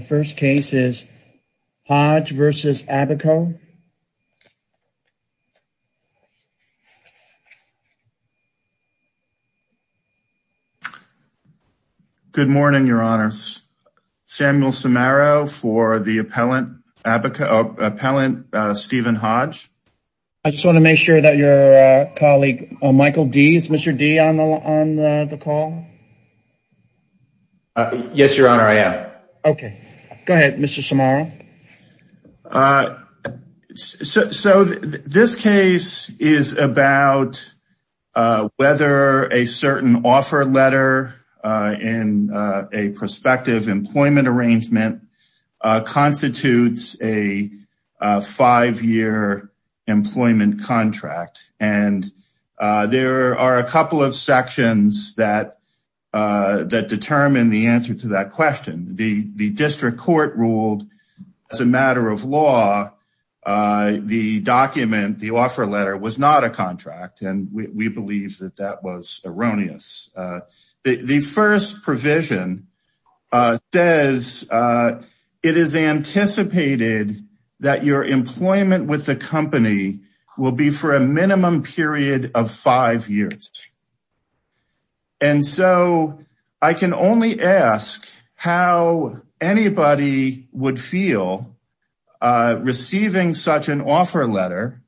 The first case is Hodge v. ABACO. Good morning, your honors. Samuel Samaro for the appellant Stephen Hodge. I just want to make sure that your colleague, Michael Dee, is Mr. Dee on the call? Yes, your honor, I am. Okay, go ahead Mr. Samaro. So this case is about whether a certain offer letter in a prospective employment arrangement constitutes a five-year employment contract and there are a couple of sections that determine the answer to that question. The district court ruled, as a matter of law, the document, the offer letter, was not a contract and we believe that that was erroneous. The first provision says it is anticipated that your employment with the company will be for a minimum period of five years. And so I can only ask how anybody would feel receiving such an offer letter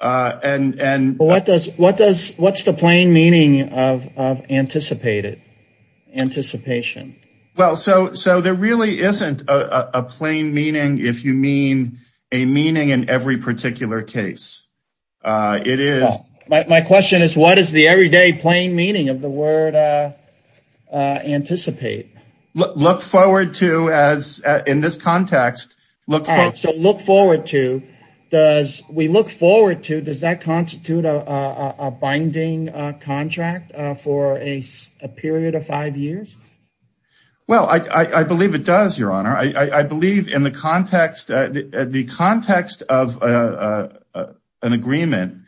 and what does what's the plain meaning of anticipated, anticipation? Well so there really isn't a plain meaning if you mean a meaning in every particular case. My question is what is the everyday plain meaning of the word anticipate? Look forward to, as in this context, look forward to, does we look forward to does that constitute a binding contract for a period of five years? Well I believe it does, your honor. I believe in the context of an agreement,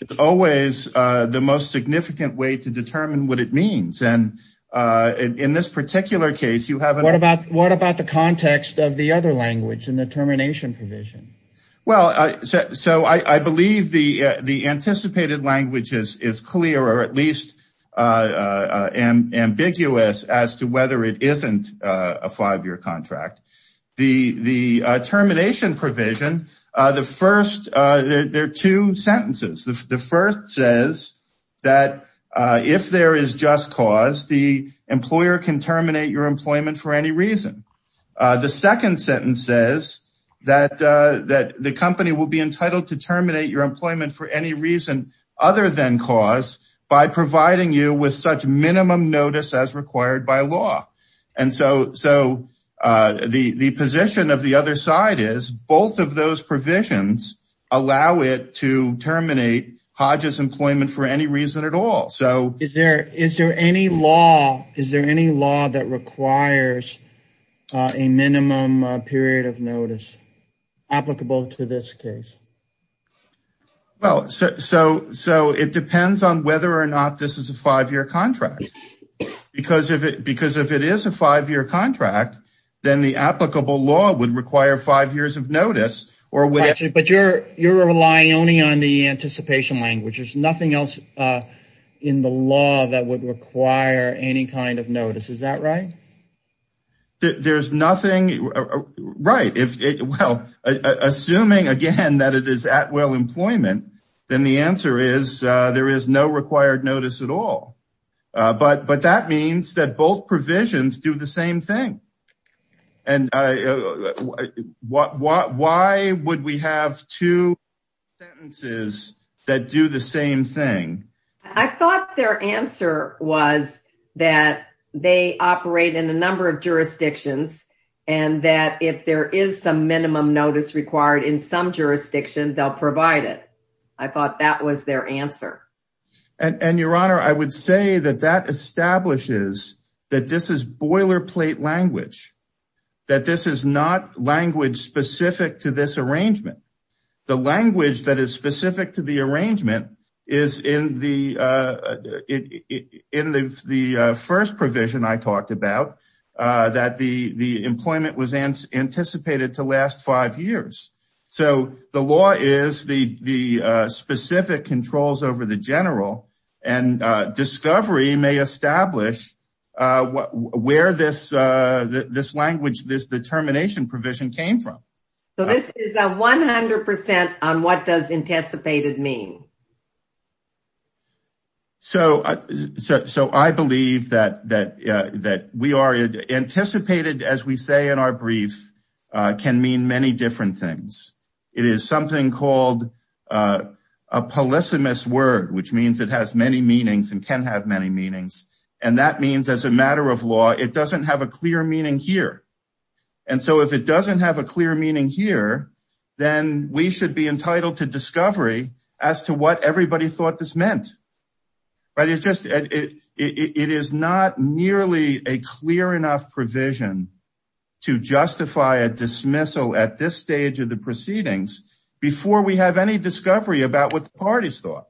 it's always the most significant way to determine what it means. And in this particular case, you have a- What about the context of the other language in the termination provision? Well so I believe the anticipated language is clear or at least ambiguous as to whether it isn't a five-year contract. The termination provision, the first, there are two sentences. The first says that if there is just cause, the employer can terminate your employment for any reason. The second sentence says that the company will be entitled to terminate your employment for any reason other than cause by providing you with such minimum notice as required by law. And so the position of the other side is both of those provisions allow it to terminate Hodges employment for any reason at all. Is there any law that requires a minimum period of notice applicable to this case? Well, so it depends on whether or not this is a five-year contract. Because if it is a five-year contract, then the applicable law would require five years of notice or- But you're relying only on the anticipation language. There's nothing else in the law that would require any kind of notice, is that right? There's nothing, right, assuming again that it is at will employment, then the answer is there is no required notice at all. But that means that both provisions do the same thing. And why would we have two sentences that do the same thing? I thought their answer was that they operate in a number of jurisdictions and that if there is some minimum notice required in some jurisdiction, they'll provide it. I thought that was their answer. And Your Honor, I would say that that establishes that this is boilerplate language. That this is not language specific to this arrangement. The language that is specific to the arrangement is in the first provision I talked about, that the employment was anticipated to last five years. So the law is the specific controls over the general and discovery may establish where this language, this determination provision came from. So this is a 100% on what does anticipated mean? So I believe that we are anticipated, as we say in our brief, can mean many different things. It is something called a polysemous word, which means it has many meanings and can have many meanings. And that means as a matter of law, it doesn't have a clear meaning here. And so if it doesn't have a clear meaning here, then we should be entitled to discovery as to what everybody thought this meant. But it's just, it is not nearly a clear enough provision to justify a dismissal at this stage of the proceedings before we have any discovery about what the parties thought.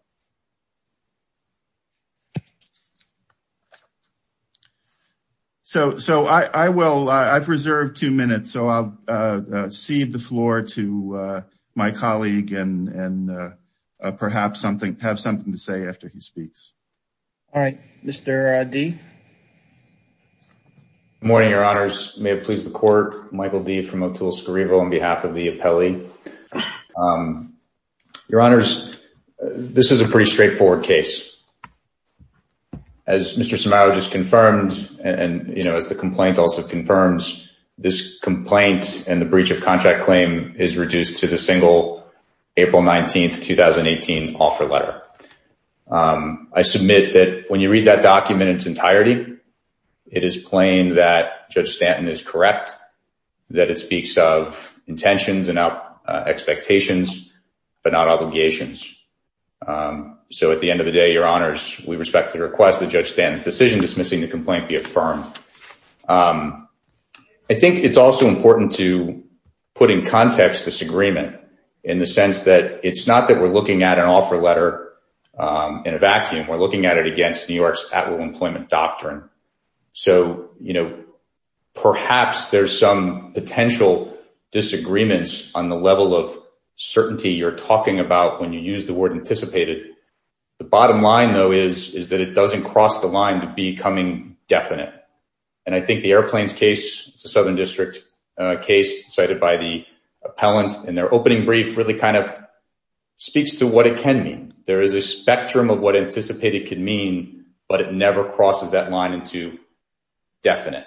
So I will, I've reserved two minutes, so I'll cede the floor to my colleague and perhaps something, have something to say after he speaks. All right, Mr. D? Good morning, your honors. May it please the court. Michael D. from O'Toole Scrivo on behalf of the appellee. Your honors, this is a pretty straightforward case. As Mr. Somao just confirmed, and as the complaint also confirms, this complaint and the breach of contract claim is reduced to the single April 19th, 2018 offer letter. I submit that when you read that document in its entirety, it is plain that Judge Stanton is correct, that it speaks of intentions and expectations, but not obligations. So at the end of the day, your honors, we respectfully request that Judge Stanton's decision dismissing the complaint be affirmed. I think it's also important to put in context this agreement in the sense that it's not that we're looking at an offer letter in a vacuum. We're looking at it against New York's at-will employment doctrine. So, you know, perhaps there's some potential disagreements on the level of certainty you're talking about when you use the word anticipated. The bottom line, though, is that it doesn't cross the line to becoming definite. And I think the airplanes case, it's a Southern District case cited by the appellant in their opening brief, really kind of speaks to what it can mean. There is a spectrum of what anticipated could mean, but it never crosses that line into definite.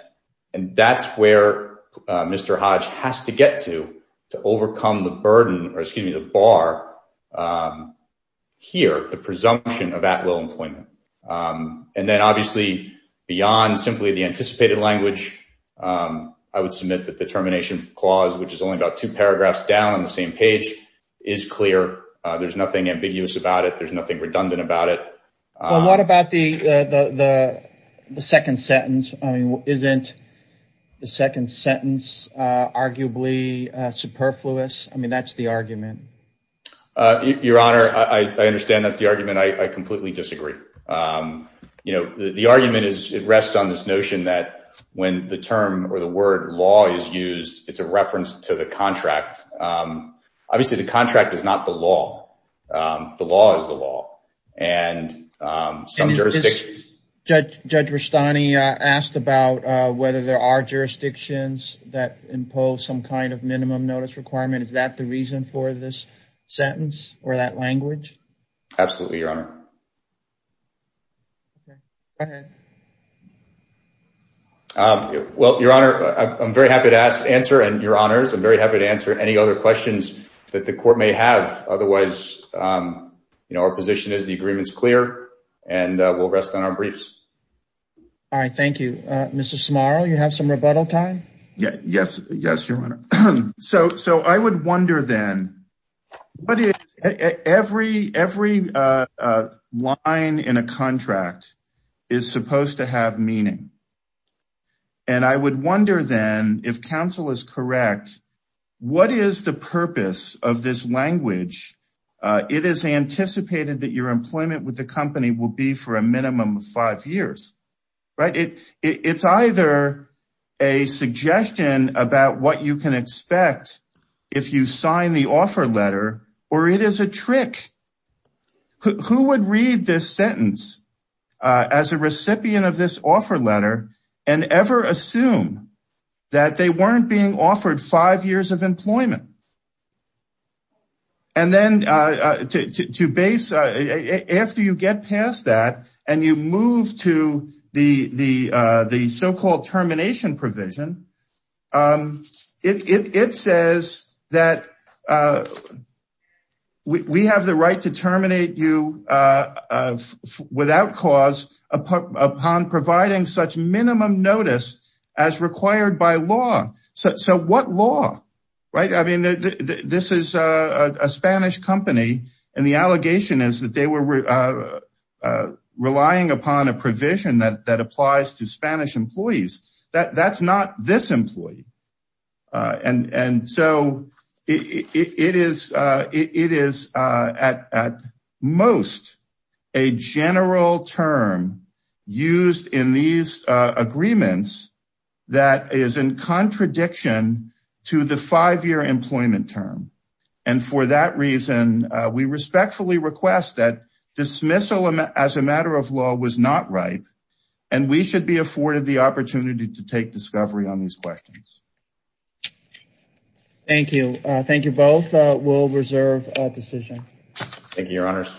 And that's where Mr. Hodge has to get to, to overcome the burden, or excuse me, the bar here, the presumption of at-will employment. And then obviously beyond simply the anticipated language, I would submit that the termination clause, which is only about two paragraphs down on the same page, is clear. There's nothing ambiguous about it. There's nothing redundant about it. What about the second sentence? I mean, isn't the second sentence arguably superfluous? I mean, that's the argument. Your Honor, I understand that's the argument. I completely disagree. You know, the argument is it rests on this notion that when the term or the word law is used, it's a reference to the contract. Obviously, the contract is not the law. The law is the law. And some jurisdictions. Judge Rustani asked about whether there are jurisdictions that impose some kind of minimum notice requirement. Is that the reason for this sentence or that language? Absolutely, Your Honor. Go ahead. Well, Your Honor, I'm very happy to answer, and Your Honors, I'm very happy to answer any other questions that the court may have. Otherwise, you know, our position is the agreement is clear and we'll rest on our briefs. All right. Thank you. Mr. Smarl, you have some rebuttal time. Yes. Yes, Your Honor. So so I would wonder then, every line in a contract is supposed to have meaning. And I would wonder then if counsel is correct, what is the purpose of this language? It is anticipated that your employment with the company will be for a minimum of five years. Right. It's either a suggestion about what you can expect if you sign the offer letter or it is a trick. Who would read this sentence as a recipient of this offer letter? And ever assume that they weren't being offered five years of employment. And then to base after you get past that and you move to the the the so-called termination provision, it says that we have the right to terminate you without cause upon providing such minimum notice as required by law. So what law? Right. I mean, this is a Spanish company and the allegation is that they were relying upon a provision that applies to Spanish employees. That's not this employee. And so it is it is at most a general term used in these agreements that is in contradiction to the five year employment term. And for that reason, we respectfully request that dismissal as a matter of law was not right. And we should be afforded the opportunity to take discovery on these questions. Thank you. Thank you. Both will reserve a decision. Thank you, Your Honors.